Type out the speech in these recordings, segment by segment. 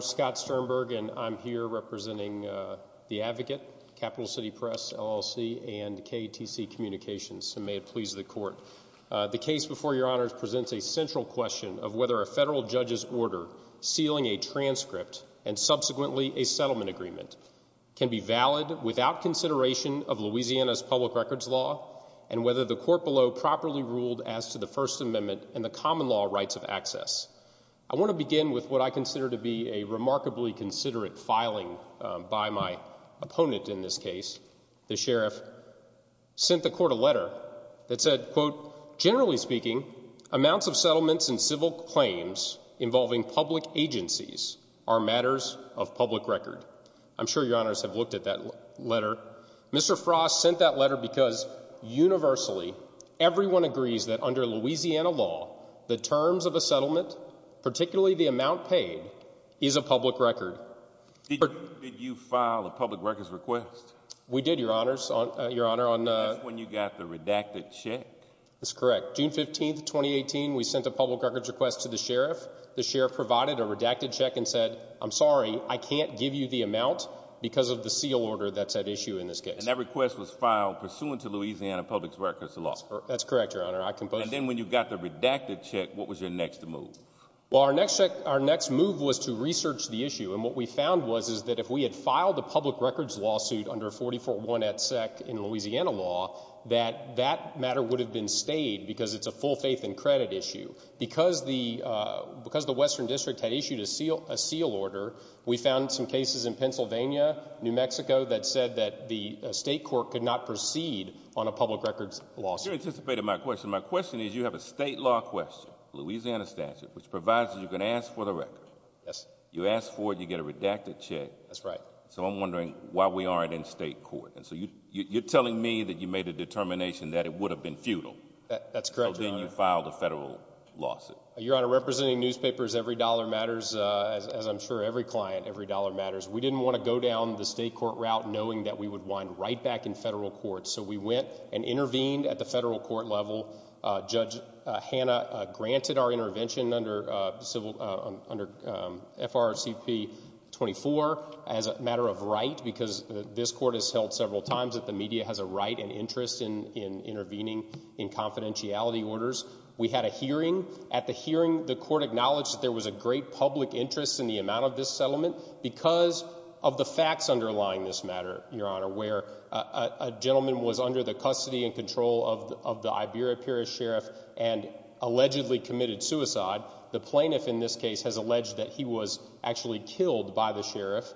Scott Sternberg, Advocate, Capital City Press, LLC, and KTC Communications The case before your honors presents a central question of whether a federal judge's order sealing a transcript and subsequently a settlement agreement can be valid without consideration of Louisiana's public records law and whether the court below properly ruled as to the First Amendment and the common law rights of access. I want to begin with what I consider to be a remarkably considerate filing by my opponent in this case. The sheriff sent the court a letter that said, quote, generally speaking, amounts of settlements and civil claims involving public agencies are matters of public record. I'm sure your honors have looked at that letter. Mr. Frost sent that letter because universally everyone agrees that under Louisiana law, the terms of a settlement, particularly the amount paid, is a public record. Did you file a public records request? We did, your honors. That's when you got the redacted check. That's correct. June 15, 2018, we sent a public records request to the sheriff. The sheriff provided a redacted check and said, I'm sorry, I can't give you the amount because of the seal order that's at issue in this case. And that request was filed pursuant to Louisiana public records law. That's correct, your honor. And then when you got the redacted check, what was your next move? Well, our next move was to research the issue, and what we found was that if we had filed a public records lawsuit under 44-1 et sec in Louisiana law, that that matter would have been stayed because it's a full faith and credit issue. Because the western district had issued a seal order, we found some cases in Pennsylvania, New Mexico, that said that the state court could not proceed on a public records lawsuit. You anticipated my question. My question is, you have a state law question, Louisiana statute, which provides that you can ask for the record. Yes. You ask for it, you get a redacted check. That's right. So I'm wondering why we aren't in state court. And so you're telling me that you made a determination that it would have been futile. That's correct, your honor. So then you filed a federal lawsuit. Your honor, representing newspapers, every dollar matters, as I'm sure every client, every dollar matters. We didn't want to go down the state court route knowing that we would wind right back in federal court. So we went and intervened at the federal court level. Judge Hanna granted our intervention under FRCP 24 as a matter of right because this court has held several times that the media has a right and interest in intervening in confidentiality orders. We had a hearing. At the hearing, the court acknowledged that there was a great public interest in the amount of this settlement because of the facts underlying this matter, your honor, where a gentleman was under the custody and control of the Iberia period sheriff and allegedly committed suicide. The plaintiff in this case has alleged that he was actually killed by the sheriff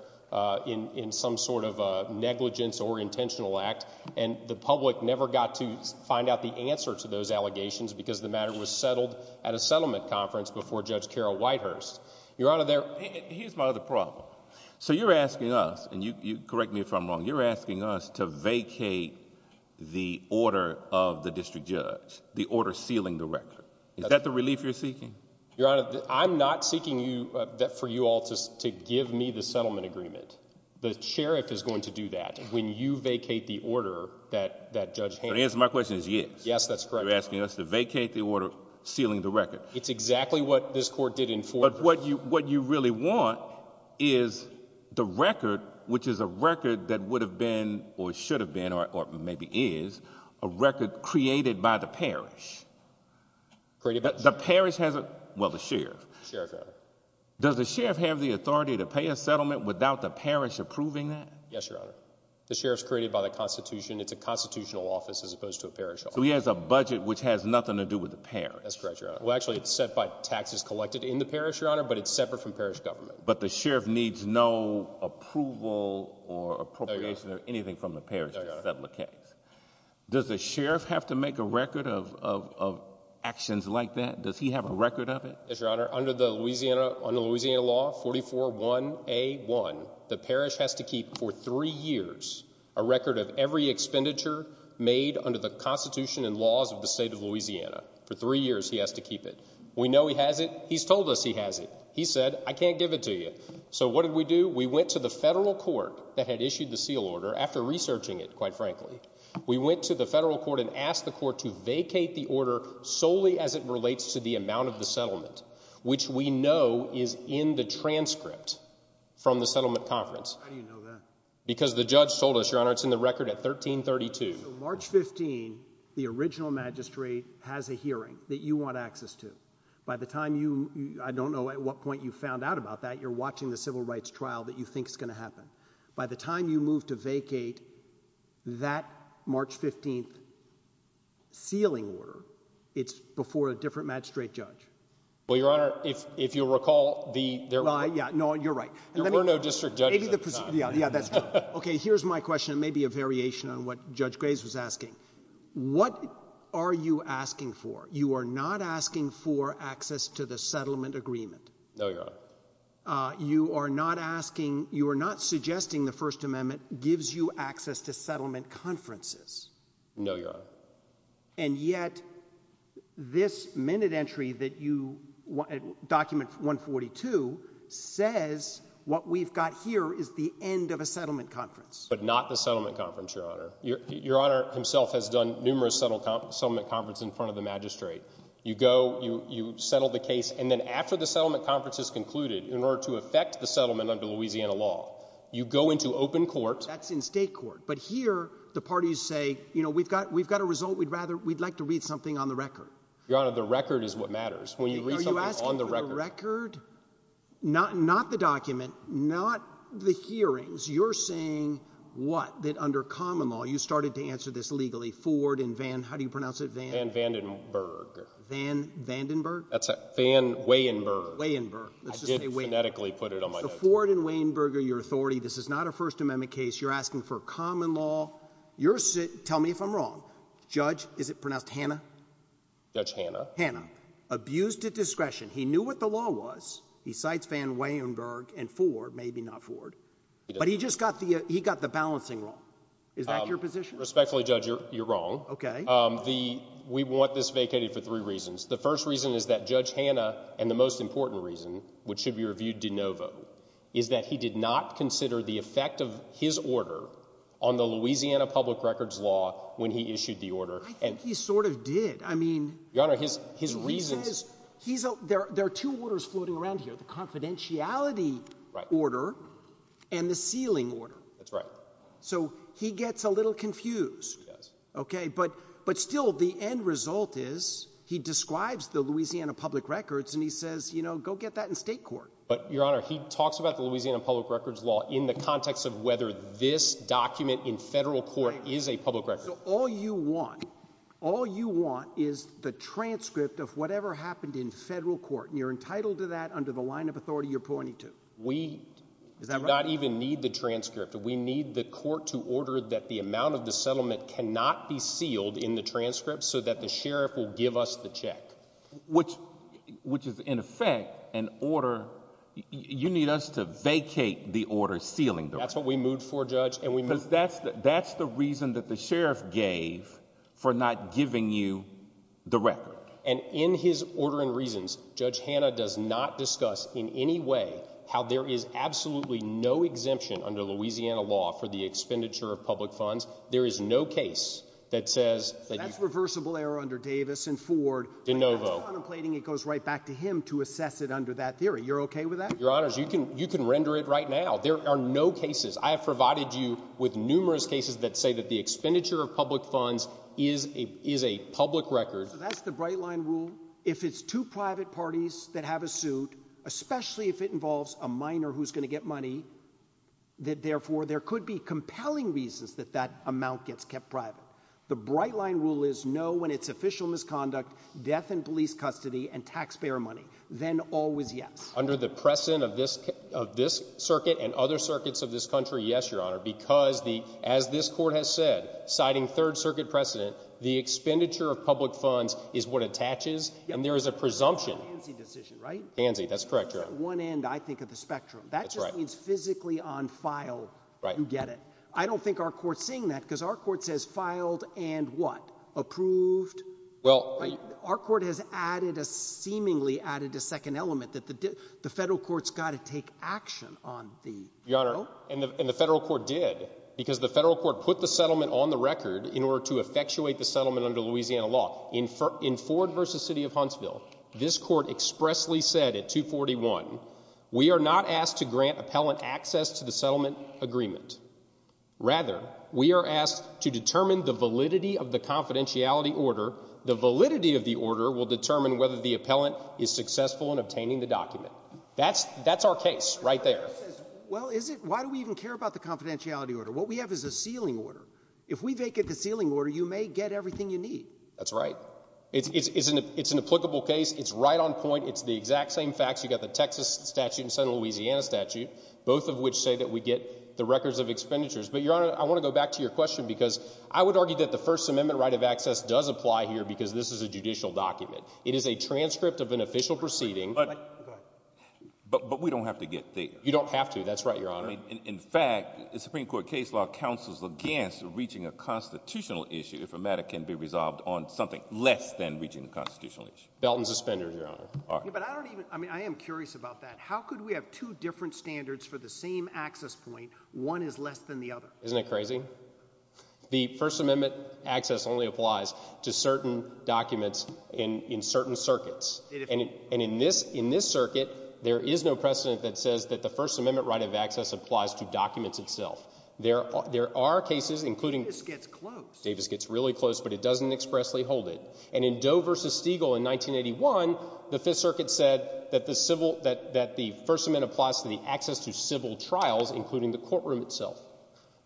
in some sort of negligence or intentional act. And the public never got to find out the answer to those allegations because the matter was settled at a settlement conference before Judge Carol Whitehurst. Here's my other problem. So you're asking us, and correct me if I'm wrong, you're asking us to vacate the order of the district judge, the order sealing the record. Is that the relief you're seeking? Your honor, I'm not seeking for you all to give me the settlement agreement. The sheriff is going to do that when you vacate the order that that judge has. My question is, yes. Yes, that's correct. You're asking us to vacate the order sealing the record. It's exactly what this court did. But what you what you really want is the record, which is a record that would have been or should have been or maybe is a record created by the parish. The parish has it. Well, the sheriff. Does the sheriff have the authority to pay a settlement without the parish approving that? Yes, your honor. The sheriff's created by the Constitution. It's a constitutional office as opposed to a parish. So he has a budget which has nothing to do with the parish. That's correct, your honor. Well, actually, it's set by taxes collected in the parish, your honor, but it's separate from parish government. But the sheriff needs no approval or appropriation or anything from the parish to settle the case. Does the sheriff have to make a record of actions like that? Does he have a record of it? Yes, your honor. Under the Louisiana on the Louisiana law. Forty four one a one. The parish has to keep for three years a record of every expenditure made under the Constitution and laws of the state of Louisiana for three years. He has to keep it. We know he has it. He's told us he has it. He said, I can't give it to you. So what did we do? We went to the federal court that had issued the seal order after researching it. Quite frankly, we went to the federal court and asked the court to vacate the order solely as it relates to the amount of the settlement, which we know is in the transcript from the settlement conference. How do you know that? Because the judge told us, your honor, it's in the record at 1332. March 15. The original magistrate has a hearing that you want access to. By the time you I don't know at what point you found out about that you're watching the civil rights trial that you think is going to happen. By the time you move to vacate that March 15th. Sealing order. It's before a different magistrate judge. Well, your honor, if if you recall the. Yeah, no, you're right. There were no district judge. Yeah, that's OK. Here's my question. Maybe a variation on what Judge Grace was asking. What are you asking for? You are not asking for access to the settlement agreement. No, your honor. You are not asking. You are not suggesting the First Amendment gives you access to settlement conferences. No, your honor. And yet this minute entry that you document 142 says what we've got here is the end of a settlement conference. But not the settlement conference, your honor. Your honor himself has done numerous settlement conference in front of the magistrate. You go. You settle the case. And then after the settlement conference is concluded in order to affect the settlement under Louisiana law, you go into open court. That's in state court. But here the parties say, you know, we've got we've got a result. We'd rather we'd like to read something on the record. Your honor, the record is what matters. Are you asking for the record? Not not the document, not the hearings. You're saying what? That under common law, you started to answer this legally. Ford and Van. How do you pronounce it? Van Vandenberg. Van Vandenberg. Van Weyenberg. Weyenberg. I did phonetically put it on my note. Ford and Weyenberg are your authority. This is not a First Amendment case. You're asking for common law. You're sit. Tell me if I'm wrong. Judge, is it pronounced Hannah? Judge Hannah. Hannah. Abused at discretion. He knew what the law was. He cites Van Weyenberg and Ford, maybe not Ford. But he just got the he got the balancing role. Is that your position? Respectfully, Judge, you're wrong. OK, the we want this vacated for three reasons. The first reason is that Judge Hannah and the most important reason, which should be reviewed de novo, is that he did not consider the effect of his order on the Louisiana public records law when he issued the order. And he sort of did. I mean, your honor, his his reasons. He's there. There are two orders floating around here, the confidentiality order and the sealing order. That's right. So he gets a little confused. Yes. OK, but but still, the end result is he describes the Louisiana public records and he says, you know, go get that in state court. But your honor, he talks about the Louisiana public records law in the context of whether this document in federal court is a public record. So all you want, all you want is the transcript of whatever happened in federal court. And you're entitled to that under the line of authority you're pointing to. We do not even need the transcript. We need the court to order that the amount of the settlement cannot be sealed in the transcript so that the sheriff will give us the check. Which which is, in effect, an order. You need us to vacate the order sealing. That's what we moved for, Judge. And we know that's that's the reason that the sheriff gave for not giving you the record. And in his order and reasons, Judge Hannah does not discuss in any way how there is absolutely no exemption under Louisiana law for the expenditure of public funds. There is no case that says that's reversible error under Davis and Ford. De novo. It goes right back to him to assess it under that theory. You're OK with that. Your honors, you can you can render it right now. There are no cases. I have provided you with numerous cases that say that the expenditure of public funds is a is a public record. That's the bright line rule. If it's two private parties that have a suit, especially if it involves a minor who's going to get money, that therefore there could be compelling reasons that that amount gets kept private. The bright line rule is no. When it's official misconduct, death in police custody and taxpayer money, then always. Yes, under the precedent of this of this circuit and other circuits of this country. Yes, your honor. Because the as this court has said, citing Third Circuit precedent, the expenditure of public funds is what attaches. And there is a presumption decision, right? Fancy. That's correct. You're on one end, I think, of the spectrum. That's right. It's physically on file. Right. You get it. I don't think our court seeing that because our court says filed and what approved. Well, our court has added a seemingly added a second element that the the federal courts got to take action on the your honor. And the federal court did because the federal court put the settlement on the record in order to effectuate the settlement under Louisiana law. In four in Ford versus city of Huntsville. This court expressly said at two forty one. We are not asked to grant appellant access to the settlement agreement. Rather, we are asked to determine the validity of the confidentiality order. The validity of the order will determine whether the appellant is successful in obtaining the document. That's that's our case right there. Well, is it? Why do we even care about the confidentiality order? What we have is a ceiling order. If we make it the ceiling order, you may get everything you need. That's right. It's an it's an applicable case. It's right on point. It's the exact same facts. You got the Texas statute in central Louisiana statute, both of which say that we get the records of expenditures. But your honor, I want to go back to your question because I would argue that the First Amendment right of access does apply here because this is a judicial document. It is a transcript of an official proceeding. But but we don't have to get there. You don't have to. That's right. Your honor. In fact, the Supreme Court case law counsels against reaching a constitutional issue. If a matter can be resolved on something less than reaching the constitutional issue. But I don't even I mean, I am curious about that. How could we have two different standards for the same access point? One is less than the other. Isn't it crazy? The First Amendment access only applies to certain documents in in certain circuits. And and in this in this circuit, there is no precedent that says that the First Amendment right of access applies to documents itself. There are there are cases including this gets close. Davis gets really close, but it doesn't expressly hold it. And in Doe versus Stiegel in 1981, the Fifth Circuit said that the civil that that the First Amendment applies to the access to civil trials, including the courtroom itself.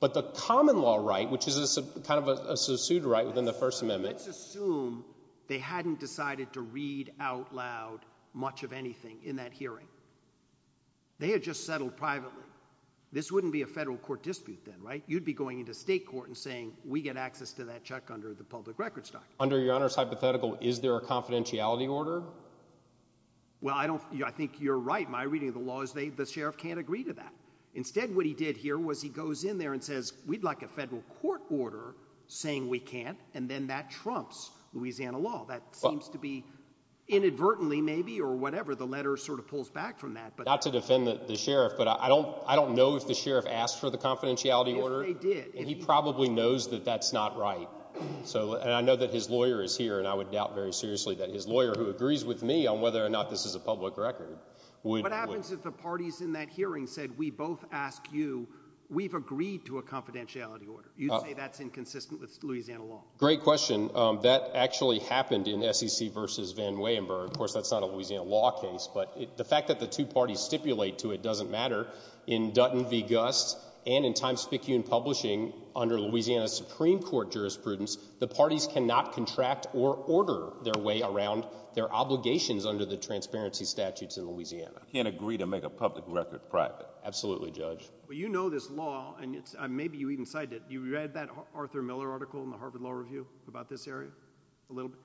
But the common law right, which is kind of a pseudo right within the First Amendment. Let's assume they hadn't decided to read out loud much of anything in that hearing. They had just settled privately. This wouldn't be a federal court dispute then. Right. You'd be going into state court and saying we get access to that check under the public records. Under your honor's hypothetical, is there a confidentiality order? Well, I don't I think you're right. My reading of the law is they the sheriff can't agree to that. Instead, what he did here was he goes in there and says we'd like a federal court order saying we can't. And then that trumps Louisiana law. That seems to be inadvertently maybe or whatever. The letter sort of pulls back from that, but not to defend the sheriff. But I don't I don't know if the sheriff asked for the confidentiality order. They did. And he probably knows that that's not right. So I know that his lawyer is here and I would doubt very seriously that his lawyer who agrees with me on whether or not this is a public record. What happens if the parties in that hearing said we both ask you we've agreed to a confidentiality order? You say that's inconsistent with Louisiana law. Great question. That actually happened in SEC versus Van Weyemberg. Of course, that's not a Louisiana law case. But the fact that the two parties stipulate to it doesn't matter in Dutton v. Gust and in Times-Picayune publishing under Louisiana Supreme Court jurisprudence, the parties cannot contract or order their way around their obligations under the transparency statutes in Louisiana. Can't agree to make a public record private. Absolutely, Judge. Well, you know, this law and maybe you even cited you read that Arthur Miller article in the Harvard Law Review about this area a little bit.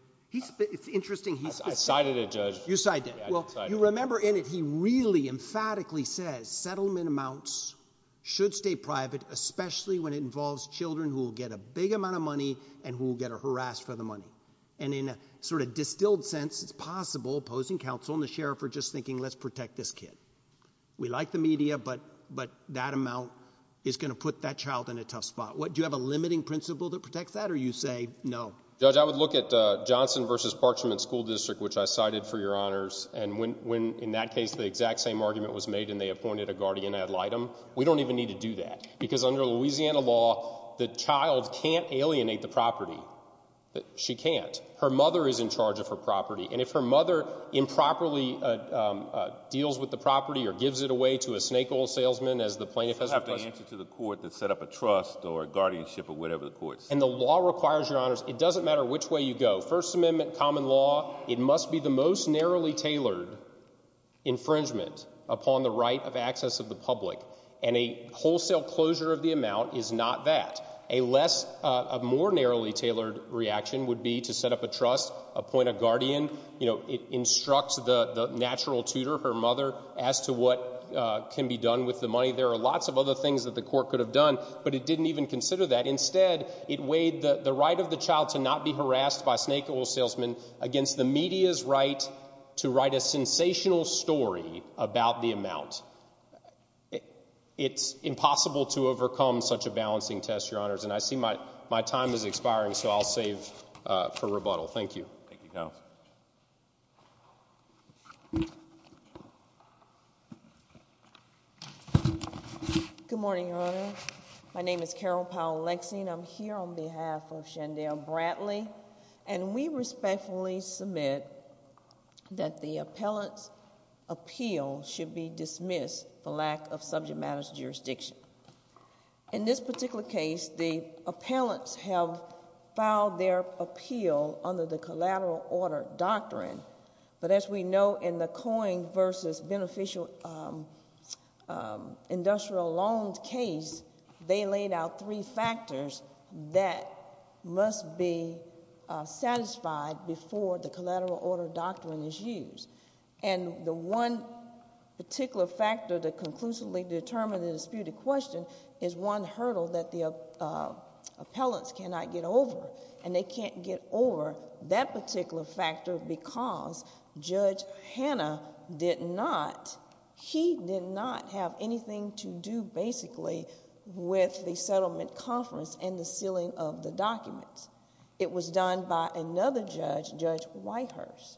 It's interesting. He cited a judge. You cited. Well, you remember in it. He really emphatically says settlement amounts should stay private, especially when it involves children who will get a big amount of money and who will get a harassed for the money. And in a sort of distilled sense, it's possible opposing counsel and the sheriff are just thinking, let's protect this kid. We like the media, but but that amount is going to put that child in a tough spot. What do you have a limiting principle that protects that? Or you say no. Judge, I would look at Johnson versus Parchment School District, which I cited for your honors. And when when in that case, the exact same argument was made and they appointed a guardian ad litem. We don't even need to do that because under Louisiana law, the child can't alienate the property that she can't. Her mother is in charge of her property. And if her mother improperly deals with the property or gives it away to a snake oil salesman, as the plaintiff has. I have to answer to the court that set up a trust or guardianship or whatever the courts. And the law requires your honors. It doesn't matter which way you go. First Amendment common law. It must be the most narrowly tailored infringement upon the right of access of the public. And a wholesale closure of the amount is not that a less of more narrowly tailored reaction would be to set up a trust, appoint a guardian. You know, it instructs the natural tutor, her mother, as to what can be done with the money. There are lots of other things that the court could have done, but it didn't even consider that. Instead, it weighed the right of the child to not be harassed by snake oil salesman against the media's right to write a sensational story about the amount. It's impossible to overcome such a balancing test, your honors. And I see my my time is expiring, so I'll save for rebuttal. Thank you. Thank you, counsel. Good morning, your honor. My name is Carol Powell Lexing. I'm here on behalf of Shandell Bradley. And we respectfully submit that the appellant's appeal should be dismissed for lack of subject matters jurisdiction. In this particular case, the appellants have filed their appeal under the collateral order doctrine. But as we know, in the Coing v. Beneficial Industrial Loans case, they laid out three factors that must be satisfied before the collateral order doctrine is used. And the one particular factor that conclusively determined the disputed question is one hurdle that the appellants cannot get over. And they can't get over that particular factor because Judge Hanna did not, he did not have anything to do, basically, with the settlement conference and the sealing of the documents. It was done by another judge, Judge Whitehurst.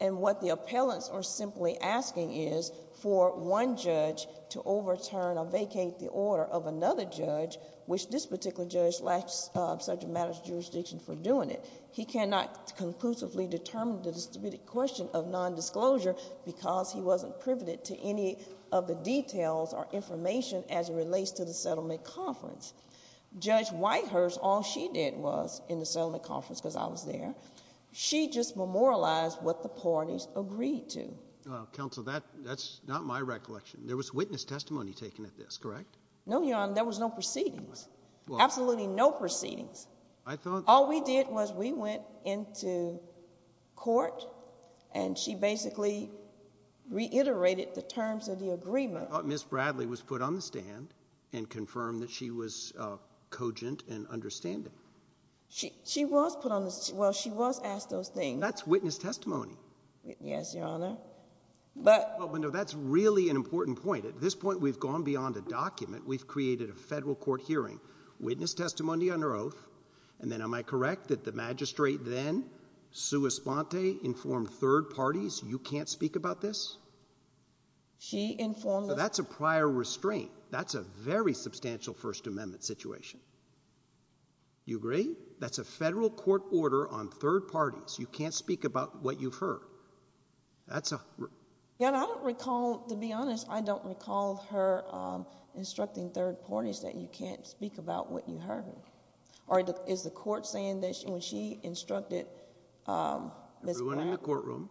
And what the appellants are simply asking is for one judge to overturn or vacate the order of another judge, which this particular judge lacks subject matters jurisdiction for doing it. He cannot conclusively determine the disputed question of nondisclosure because he wasn't privy to any of the details or information as it relates to the settlement conference. Judge Whitehurst, all she did was, in the settlement conference, because I was there, she just memorialized what the parties agreed to. Well, counsel, that's not my recollection. There was witness testimony taken at this, correct? No, Your Honor. There was no proceedings. Absolutely no proceedings. I thought— All we did was we went into court, and she basically reiterated the terms of the agreement. I thought Ms. Bradley was put on the stand and confirmed that she was cogent and understanding. She was put on the—well, she was asked those things. That's witness testimony. Yes, Your Honor. But— No, that's really an important point. At this point, we've gone beyond a document. We've created a federal court hearing, witness testimony under oath, and then am I correct that the magistrate then, sua sponte, informed third parties, you can't speak about this? She informed— That's a prior restraint. That's a very substantial First Amendment situation. You agree? That's a federal court order on third parties. You can't speak about what you've heard. That's a— Your Honor, I don't recall—to be honest, I don't recall her instructing third parties that you can't speak about what you heard. Or is the court saying that when she instructed Ms. Bradley— Everyone in the courtroom.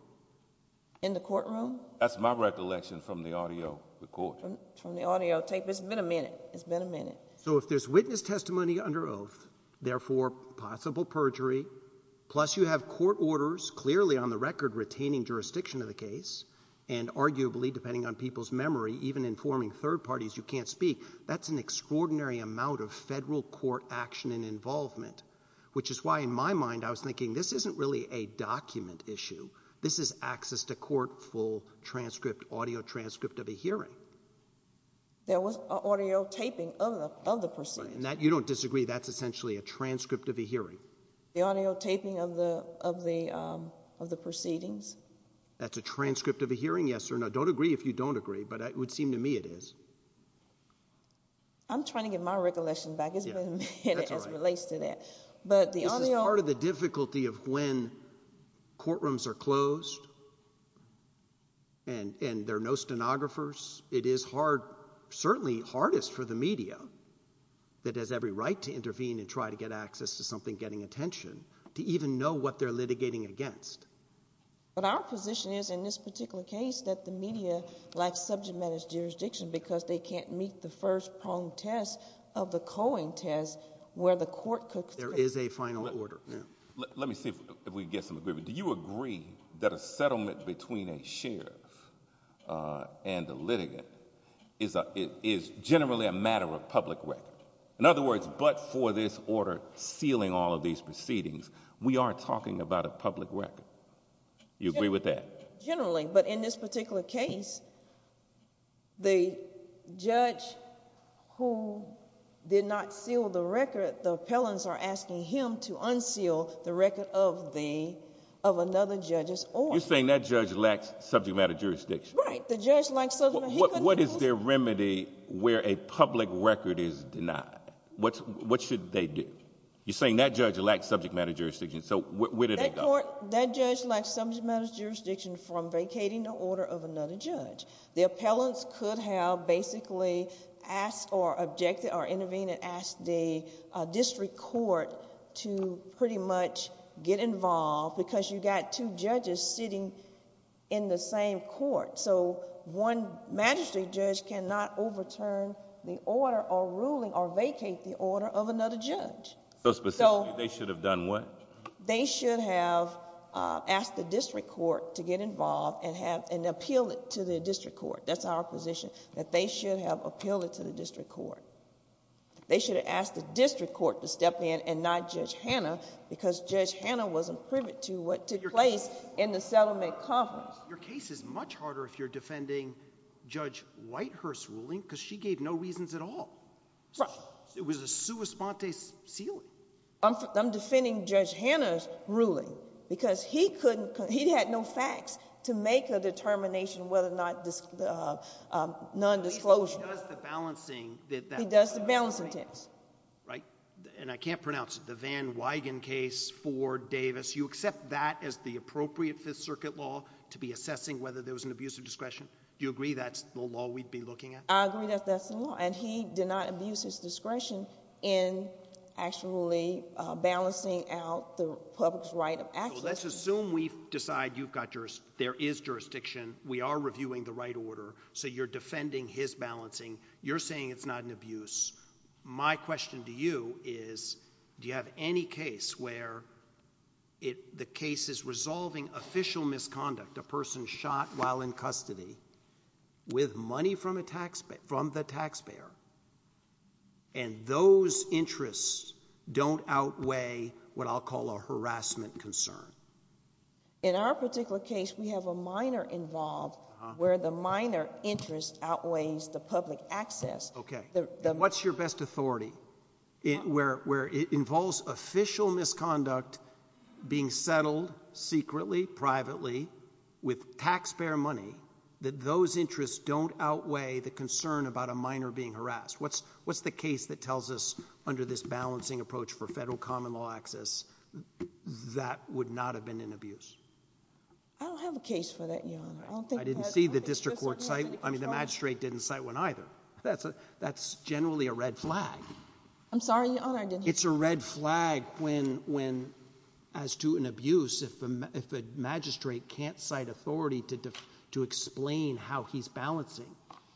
In the courtroom? That's my recollection from the audio recording. From the audio tape. It's been a minute. It's been a minute. So if there's witness testimony under oath, therefore possible perjury, plus you have court orders clearly on the record retaining jurisdiction of the case, and arguably, depending on people's memory, even informing third parties you can't speak, that's an extraordinary amount of federal court action and involvement, which is why in my mind I was thinking this isn't really a document issue. This is access to court, full transcript, audio transcript of a hearing. There was audio taping of the proceedings. You don't disagree that's essentially a transcript of a hearing? The audio taping of the proceedings. That's a transcript of a hearing, yes or no? Don't agree if you don't agree, but it would seem to me it is. I'm trying to get my recollection back. It's been a minute as it relates to that. This is part of the difficulty of when courtrooms are closed and there are no stenographers. It is certainly hardest for the media that has every right to intervene and try to get access to something getting attention, to even know what they're litigating against. But our position is in this particular case that the media lacks subject matter jurisdiction because they can't meet the first pronged test of the co-ing test where the court could- There is a final order. Let me see if we can get some agreement. Do you agree that a settlement between a sheriff and a litigant is generally a matter of public record? In other words, but for this order sealing all of these proceedings, we are talking about a public record. You agree with that? Generally, but in this particular case, the judge who did not seal the record, the appellants are asking him to unseal the record of another judge's order. You're saying that judge lacks subject matter jurisdiction? Right. What is their remedy where a public record is denied? What should they do? You're saying that judge lacks subject matter jurisdiction, so where do they go? That judge lacks subject matter jurisdiction from vacating the order of another judge. The appellants could have basically asked or objected or intervened and asked the district court to pretty much get involved because you got two judges sitting in the same court. One magistrate judge cannot overturn the order or ruling or vacate the order of another judge. Specifically, they should have done what? They should have asked the district court to get involved and appealed it to the district court. That's our position, that they should have appealed it to the district court. They should have asked the district court to step in and not Judge Hanna because Judge Hanna wasn't privy to what took place in the settlement conference. Your case is much harder if you're defending Judge Whitehurst's ruling because she gave no reasons at all. It was a sua sponte ceiling. I'm defending Judge Hanna's ruling because he had no facts to make a determination whether or not non-disclosure. He does the balancing test. I can't pronounce it. The Van Wigen case, Ford, Davis, you accept that as the appropriate Fifth Circuit law to be assessing whether there was an abuse of discretion? Do you agree that's the law we'd be looking at? I agree that that's the law. He did not abuse his discretion in actually balancing out the public's right of access. Let's assume we decide there is jurisdiction. We are reviewing the right order. You're defending his balancing. You're saying it's not an abuse. My question to you is do you have any case where the case is resolving official misconduct, a person shot while in custody, with money from the taxpayer, and those interests don't outweigh what I'll call a harassment concern? In our particular case, we have a minor involved where the minor interest outweighs the public access. Okay. What's your best authority where it involves official misconduct being settled secretly, privately, with taxpayer money, that those interests don't outweigh the concern about a minor being harassed? What's the case that tells us under this balancing approach for federal common law access that would not have been an abuse? I don't have a case for that, Your Honor. I didn't see the district court cite. I mean, the magistrate didn't cite one either. That's generally a red flag. I'm sorry, Your Honor. It's a red flag when, as to an abuse, if a magistrate can't cite authority to explain how he's balancing.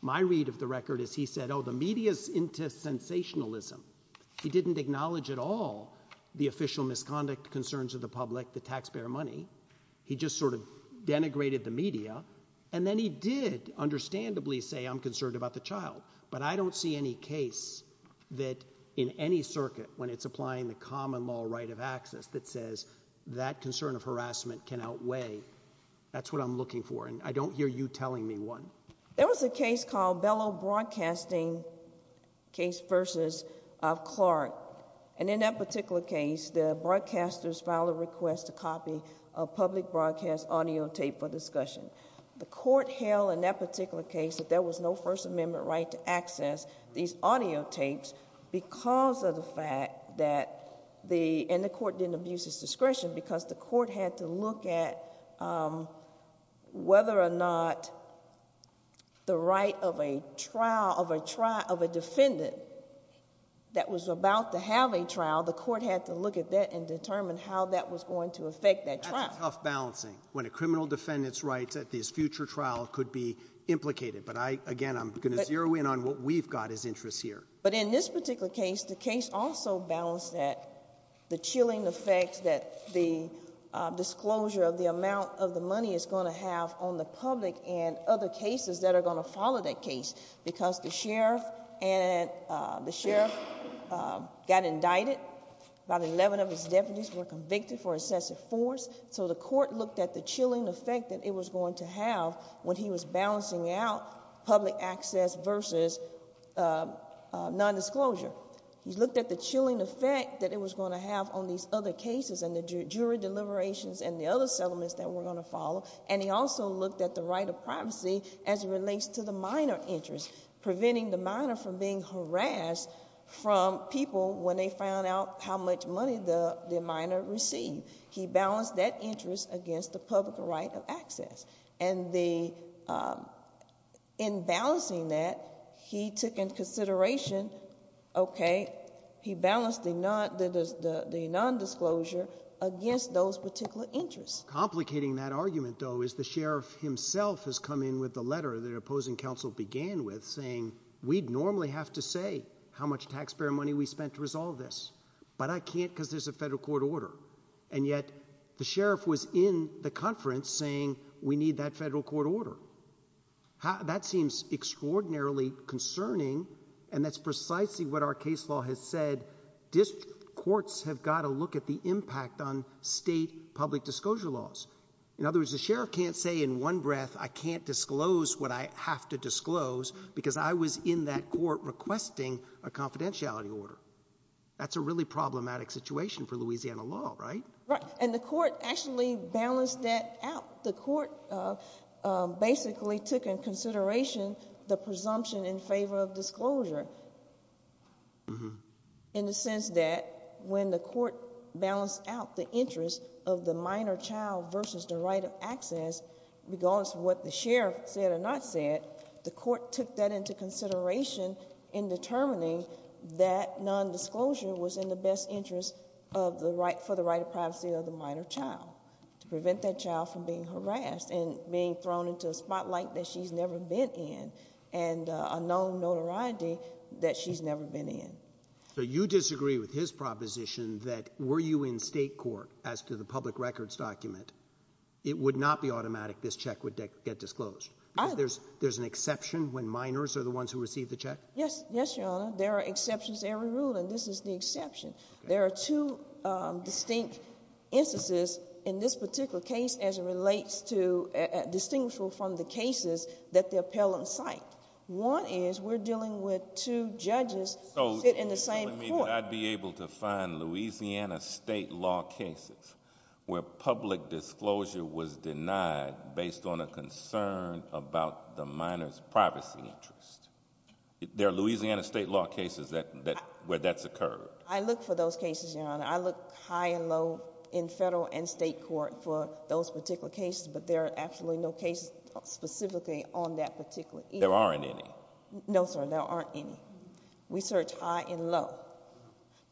My read of the record is he said, oh, the media is into sensationalism. He didn't acknowledge at all the official misconduct concerns of the public, the taxpayer money. He just sort of denigrated the media, and then he did understandably say I'm concerned about the child. But I don't see any case that in any circuit when it's applying the common law right of access that says that concern of harassment can outweigh. That's what I'm looking for, and I don't hear you telling me one. There was a case called Bellow Broadcasting case versus Clark, and in that particular case, the broadcasters filed a request to copy a public broadcast audio tape for discussion. The court held in that particular case that there was no First Amendment right to access these audio tapes because of the fact that the, and the court didn't abuse his discretion because the court had to look at whether or not the right of a trial, of a defendant that was about to have a trial, the court had to look at that and determine how that was going to affect that trial. That's a tough balancing when a criminal defendant's rights at this future trial could be implicated. But I, again, I'm going to zero in on what we've got as interests here. But in this particular case, the case also balanced that, the chilling effect that the disclosure of the amount of the money is going to have on the public and other cases that are going to follow that case because the sheriff and, the sheriff got indicted. About 11 of his deputies were convicted for excessive force, so the court looked at the chilling effect that it was going to have when he was balancing out public access versus nondisclosure. He looked at the chilling effect that it was going to have on these other cases and the jury deliberations and the other settlements that were going to follow. And he also looked at the right of privacy as it relates to the minor interest, preventing the minor from being harassed from people when they found out how much money the minor received. He balanced that interest against the public right of access. And the, in balancing that, he took into consideration, okay, he balanced the nondisclosure against those particular interests. Complicating that argument, though, is the sheriff himself has come in with the letter that opposing counsel began with, saying we'd normally have to say how much taxpayer money we spent to resolve this. But I can't because there's a federal court order. And yet, the sheriff was in the conference saying we need that federal court order. That seems extraordinarily concerning and that's precisely what our case law has said. Courts have got to look at the impact on state public disclosure laws. In other words, the sheriff can't say in one breath, I can't disclose what I have to disclose because I was in that court requesting a confidentiality order. That's a really problematic situation for Louisiana law, right? Right. And the court actually balanced that out. The court basically took into consideration the presumption in favor of disclosure. In the sense that when the court balanced out the interest of the minor child versus the right of access, regardless of what the sheriff said or not said, the court took that into consideration in determining that nondisclosure was in the best interest for the right of privacy of the minor child, to prevent that child from being harassed and being thrown into a spotlight that she's never been in and a known notoriety that she's never been in. So you disagree with his proposition that were you in state court as to the public records document, it would not be automatic this check would get disclosed? There's an exception when minors are the ones who receive the check? Yes, Your Honor. There are exceptions to every rule, and this is the exception. There are two distinct instances in this particular case as it relates to, distinguishable from the cases that the appellant cite. One is we're dealing with two judges in the same court. I mean, I'd be able to find Louisiana state law cases where public disclosure was denied based on a concern about the minor's privacy interest. There are Louisiana state law cases where that's occurred. I look for those cases, Your Honor. I look high and low in federal and state court for those particular cases, but there are absolutely no cases specifically on that particular issue. There aren't any? No, sir, there aren't any. We search high and low,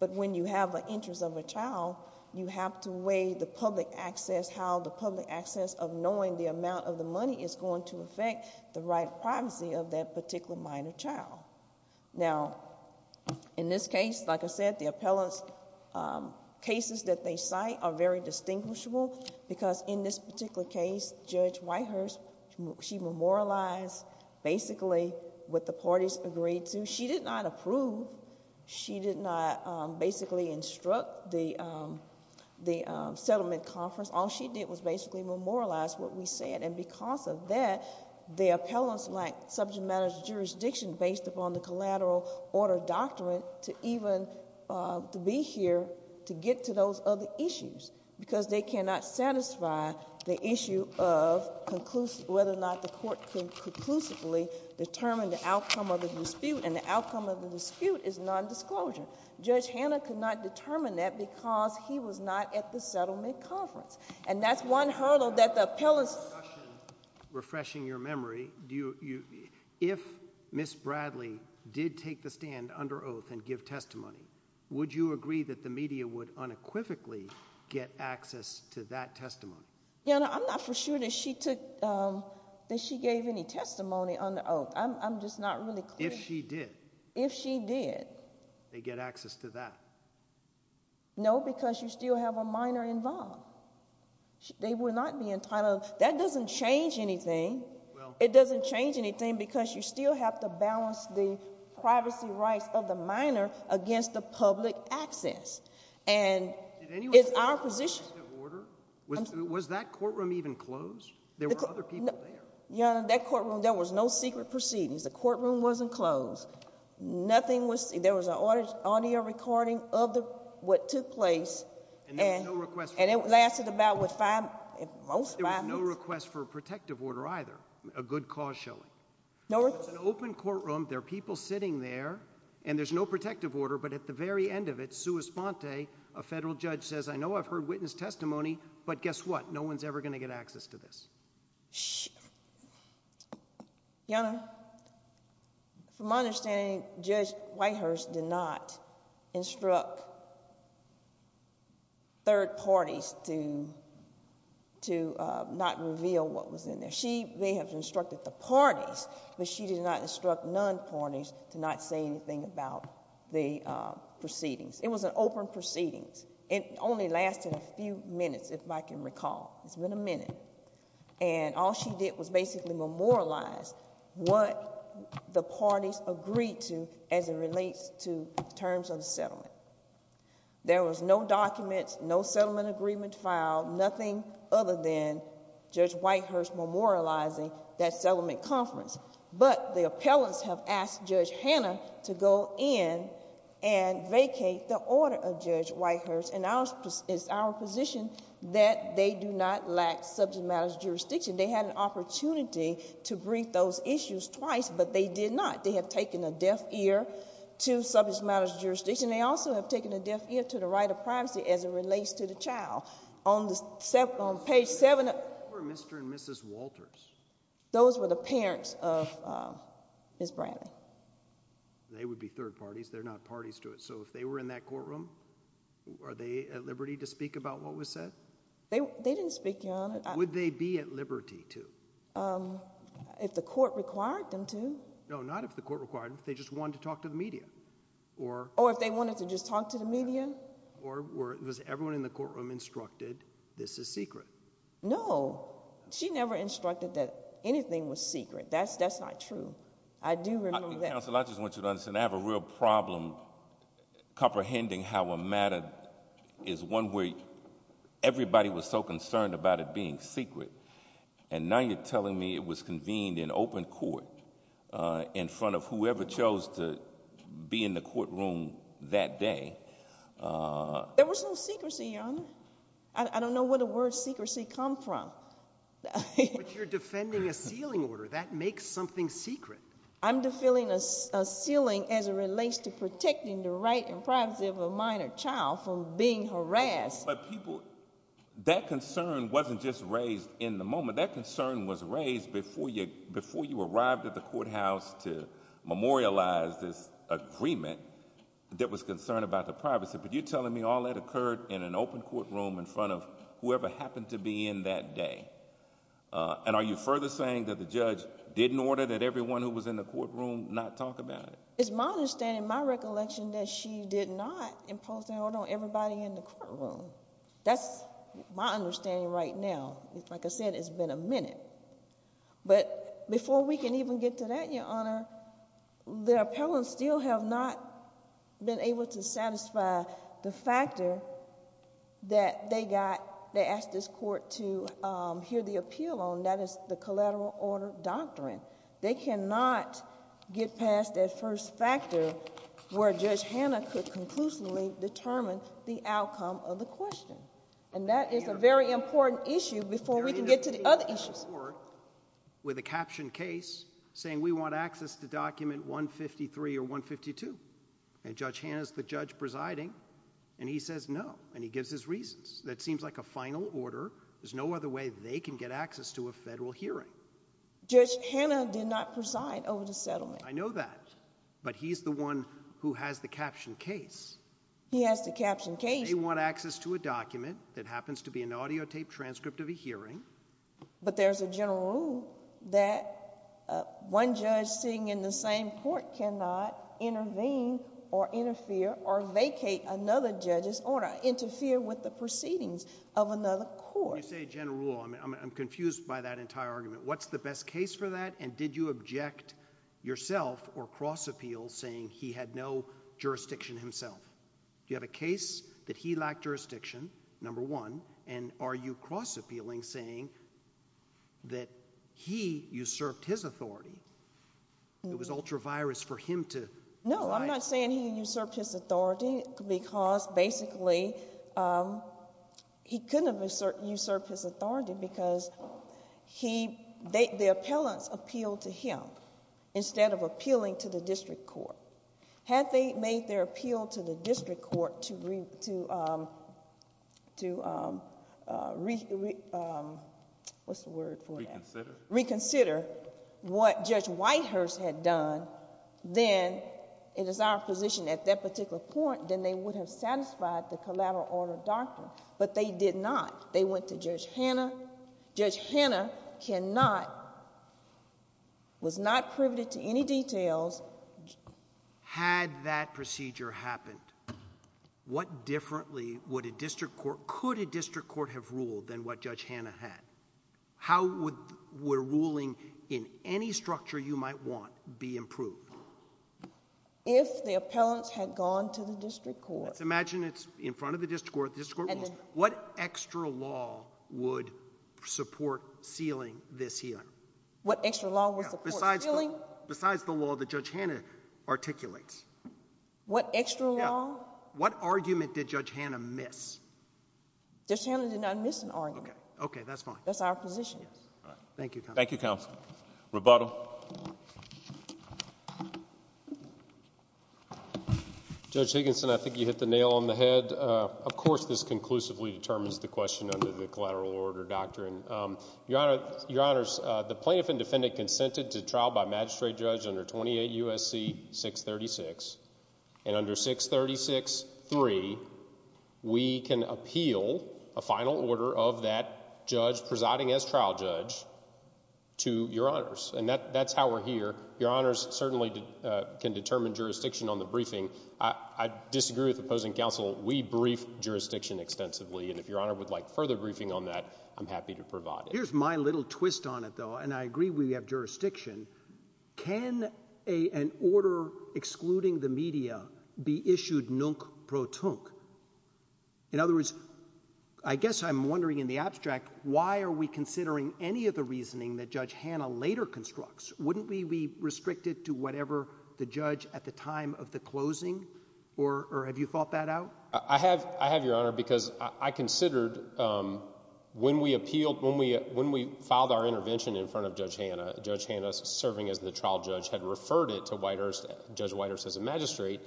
but when you have an interest of a child, you have to weigh the public access, how the public access of knowing the amount of the money is going to affect the right privacy of that particular minor child. Now, in this case, like I said, the appellant's cases that they cite are very distinguishable because in this particular case, Judge Whitehurst, she memorialized basically what the parties agreed to. She did not approve. She did not basically instruct the settlement conference. All she did was basically memorialize what we said, and because of that, the appellants lacked subject matter jurisdiction based upon the collateral order doctrine to even be here to get to those other issues because they cannot satisfy the issue of whether or not the court could conclusively determine the outcome of the dispute, and the outcome of the dispute is nondisclosure. Judge Hanna could not determine that because he was not at the settlement conference, and that's one hurdle that the appellants— Refreshing your memory, if Ms. Bradley did take the stand under oath and give testimony, would you agree that the media would unequivocally get access to that testimony? You know, I'm not for sure that she took—that she gave any testimony under oath. I'm just not really clear. If she did. If she did. They'd get access to that. No, because you still have a minor involved. They would not be entitled—that doesn't change anything. It doesn't change anything because you still have to balance the privacy rights of the minor against the public access, and it's our position— Protective order? Was that courtroom even closed? There were other people there. Your Honor, that courtroom, there was no secret proceedings. The courtroom wasn't closed. Nothing was—there was an audio recording of what took place. And there was no request for— And it lasted about five—most five minutes. There was no request for a protective order either, a good cause showing. No request— It's an open courtroom. There are people sitting there, and there's no protective order, but at the very end of it, sua sponte, a federal judge says, I know I've heard witness testimony, but guess what? No one's ever going to get access to this. Your Honor, from my understanding, Judge Whitehurst did not instruct third parties to not reveal what was in there. She may have instructed the parties, but she did not instruct non-parties to not say anything about the proceedings. It was an open proceedings. It only lasted a few minutes, if I can recall. It's been a minute. And all she did was basically memorialize what the parties agreed to as it relates to terms of the settlement. There was no documents, no settlement agreement filed, nothing other than Judge Whitehurst memorializing that settlement conference. But the appellants have asked Judge Hannah to go in and vacate the order of Judge Whitehurst. And it's our position that they do not lack subject matters jurisdiction. They had an opportunity to brief those issues twice, but they did not. They have taken a deaf ear to subject matters jurisdiction. They also have taken a deaf ear to the right of privacy as it relates to the child. On page 7— Who were Mr. and Mrs. Walters? Those were the parents of Ms. Bradley. They would be third parties. They're not parties to it. So if they were in that courtroom, are they at liberty to speak about what was said? They didn't speak, Your Honor. Would they be at liberty to? If the court required them to. No, not if the court required them. If they just wanted to talk to the media. Or if they wanted to just talk to the media. Or was everyone in the courtroom instructed this is secret? No. She never instructed that anything was secret. That's not true. I do remember that. Counsel, I just want you to understand. I have a real problem comprehending how a matter is one where everybody was so concerned about it being secret. And now you're telling me it was convened in open court in front of whoever chose to be in the courtroom that day. There was no secrecy, Your Honor. I don't know where the word secrecy comes from. But you're defending a sealing order. That makes something secret. I'm defending a sealing as it relates to protecting the right and privacy of a minor child from being harassed. But, people, that concern wasn't just raised in the moment. That concern was raised before you arrived at the courthouse to memorialize this agreement that was concerned about the privacy. But you're telling me all that occurred in an open courtroom in front of whoever happened to be in that day. And are you further saying that the judge didn't order that everyone who was in the courtroom not talk about it? It's my understanding, my recollection, that she did not impose an order on everybody in the courtroom. That's my understanding right now. But before we can even get to that, Your Honor, the appellants still have not been able to satisfy the factor that they got, they asked this court to hear the appeal on. That is the collateral order doctrine. They cannot get past that first factor where Judge Hanna could conclusively determine the outcome of the question. And that is a very important issue before we can get to the other issues. With a captioned case saying we want access to document 153 or 152. And Judge Hanna's the judge presiding, and he says no. And he gives his reasons. That seems like a final order. There's no other way they can get access to a federal hearing. Judge Hanna did not preside over the settlement. I know that. He has the captioned case. They want access to a document that happens to be an audio tape transcript of a hearing. But there's a general rule that one judge sitting in the same court cannot intervene or interfere or vacate another judge's order, interfere with the proceedings of another court. When you say general rule, I'm confused by that entire argument. What's the best case for that, and did you object yourself or cross appeal saying he had no jurisdiction himself? Do you have a case that he lacked jurisdiction, number one, and are you cross appealing saying that he usurped his authority? It was ultra-virus for him to provide. No, I'm not saying he usurped his authority because basically he couldn't have usurped his authority because the appellants appealed to him instead of appealing to the district court. Had they made their appeal to the district court to reconsider what Judge Whitehurst had done, then it is our position at that particular point, then they would have satisfied the collateral order doctrine. But they did not. They went to Judge Hanna. Judge Hanna cannot, was not privy to any details. Had that procedure happened, what differently would a district court, could a district court have ruled than what Judge Hanna had? How would ruling in any structure you might want be improved? If the appellants had gone to the district court. Let's imagine it's in front of the district court. The district court rules. What extra law would support sealing this hearing? What extra law would support sealing? Besides the law that Judge Hanna articulates. What extra law? What argument did Judge Hanna miss? Judge Hanna did not miss an argument. Okay, that's fine. That's our position. Thank you, counsel. Thank you, counsel. Rebuttal. Judge Higginson, I think you hit the nail on the head. Of course this conclusively determines the question under the collateral order doctrine. Your Honor, the plaintiff and defendant consented to trial by magistrate judge under 28 U.S.C. 636. And under 636.3, we can appeal a final order of that judge presiding as trial judge to your honors. And that's how we're here. Your honors certainly can determine jurisdiction on the briefing. I disagree with opposing counsel. We brief jurisdiction extensively. And if your honor would like further briefing on that, I'm happy to provide it. Here's my little twist on it, though. And I agree we have jurisdiction. Can an order excluding the media be issued nunc pro tunc? In other words, I guess I'm wondering in the abstract, why are we considering any of the reasoning that Judge Hanna later constructs? Wouldn't we be restricted to whatever the judge at the time of the closing? Or have you thought that out? I have, your honor, because I considered when we appealed, when we filed our intervention in front of Judge Hanna, Judge Hanna serving as the trial judge had referred it to Judge Whitehurst as a magistrate,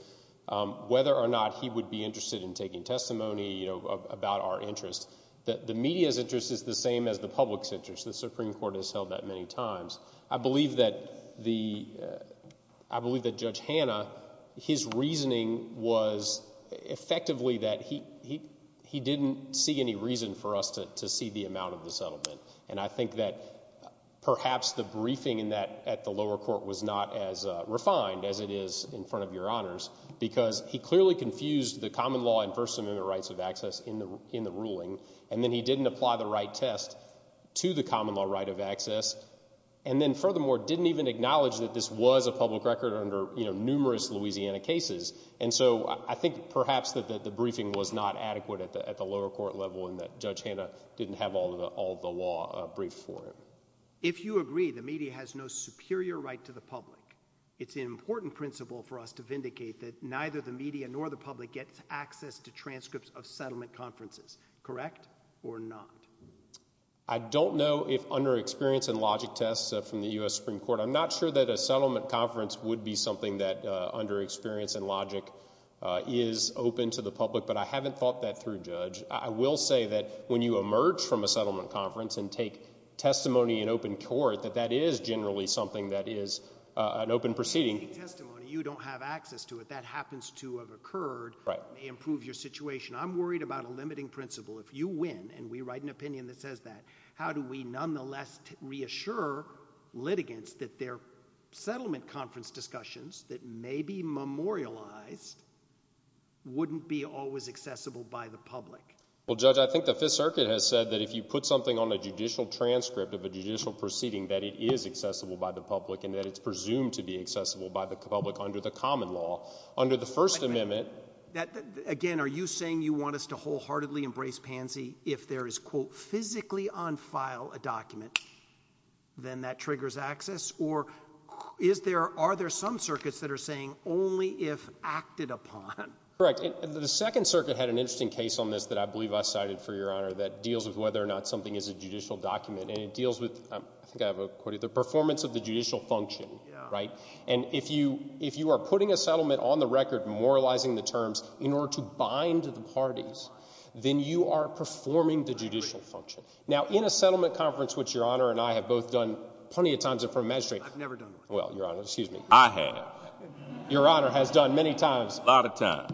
whether or not he would be interested in taking testimony about our interests. The media's interest is the same as the public's interest. The Supreme Court has held that many times. I believe that Judge Hanna, his reasoning was effectively that he didn't see any reason for us to see the amount of the settlement. And I think that perhaps the briefing at the lower court was not as refined as it is in front of your honors because he clearly confused the common law and First Amendment rights of access in the ruling, and then he didn't apply the right test to the common law right of access, and then furthermore didn't even acknowledge that this was a public record under numerous Louisiana cases. And so I think perhaps that the briefing was not adequate at the lower court level and that Judge Hanna didn't have all the law briefed for him. If you agree the media has no superior right to the public, it's an important principle for us to vindicate that neither the media nor the public gets access to transcripts of settlement conferences. Correct or not? I don't know if under experience and logic tests from the U.S. Supreme Court. I'm not sure that a settlement conference would be something that under experience and logic is open to the public, but I haven't thought that through, Judge. I will say that when you emerge from a settlement conference and take testimony in open court, that that is generally something that is an open proceeding. If you take testimony, you don't have access to it. That happens to have occurred. It may improve your situation. I'm worried about a limiting principle. If you win and we write an opinion that says that, how do we nonetheless reassure litigants that their settlement conference discussions that may be memorialized wouldn't be always accessible by the public? Well, Judge, I think the Fifth Circuit has said that if you put something on a judicial transcript of a judicial proceeding, that it is accessible by the public and that it's presumed to be accessible by the public under the common law, under the First Amendment. Again, are you saying you want us to wholeheartedly embrace pansy if there is, quote, physically on file a document, then that triggers access? Or are there some circuits that are saying only if acted upon? Correct. The Second Circuit had an interesting case on this that I believe I cited for Your Honor that deals with whether or not something is a judicial document, and it deals with, I think I have a quote here, the performance of the judicial function, right? And if you are putting a settlement on the record, memorializing the terms in order to bind the parties, then you are performing the judicial function. Now, in a settlement conference, which Your Honor and I have both done plenty of times in front of magistrates. I've never done one. Well, Your Honor, excuse me. I have. Your Honor has done many times. A lot of times.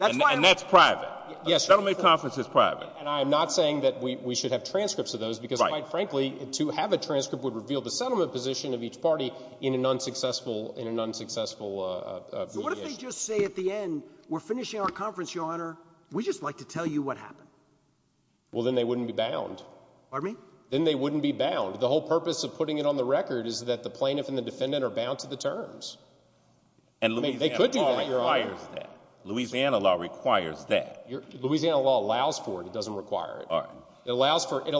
And that's private. Yes, Your Honor. A settlement conference is private. And I am not saying that we should have transcripts of those because, quite frankly, to have a transcript would reveal the settlement position of each party in an unsuccessful mediation. So what if they just say at the end, we're finishing our conference, Your Honor. We'd just like to tell you what happened. Well, then they wouldn't be bound. Pardon me? Then they wouldn't be bound. The whole purpose of putting it on the record is that the plaintiff and the defendant are bound to the terms. And Louisiana law requires that. Louisiana law requires that. Louisiana law allows for it. It doesn't require it. All right. It allows for a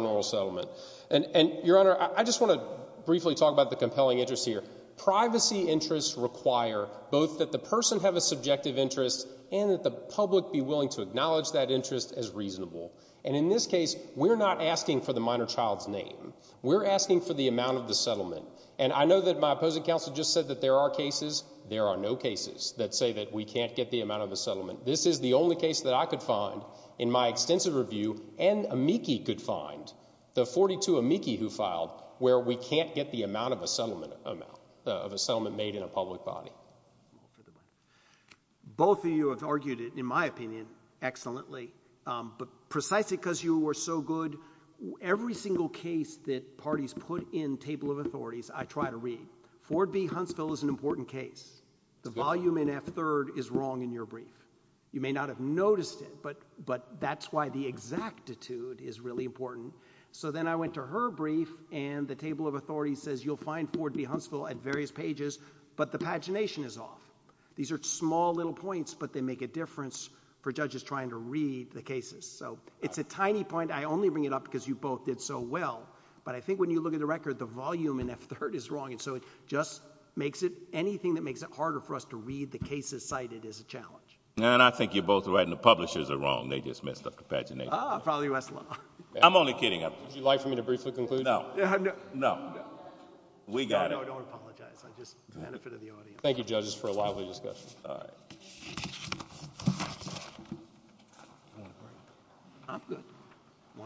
normal settlement. And, Your Honor, I just want to briefly talk about the compelling interest here. Privacy interests require both that the person have a subjective interest and that the public be willing to acknowledge that interest as reasonable. And in this case, we're not asking for the minor child's name. We're asking for the amount of the settlement. And I know that my opposing counsel just said that there are cases. There are no cases that say that we can't get the amount of a settlement. This is the only case that I could find in my extensive review, and Amici could find, the 42 Amici who filed, where we can't get the amount of a settlement made in a public body. Both of you have argued it, in my opinion, excellently. But precisely because you were so good, every single case that parties put in table of authorities, I try to read. Ford v. Huntsville is an important case. The volume in F-3rd is wrong in your brief. You may not have noticed it, but that's why the exactitude is really important. So then I went to her brief, and the table of authorities says you'll find Ford v. Huntsville at various pages, but the pagination is off. These are small little points, but they make a difference for judges trying to read the cases. So it's a tiny point. I only bring it up because you both did so well. But I think when you look at the record, the volume in F-3rd is wrong. And so it just makes it—anything that makes it harder for us to read the cases cited is a challenge. And I think you're both right, and the publishers are wrong. They just messed up the pagination. Ah, probably Westlaw. I'm only kidding. Would you like for me to briefly conclude? No. No. We got it. No, no, don't apologize. It's just the benefit of the audience. Thank you, judges, for a lively discussion. All right. I'm good.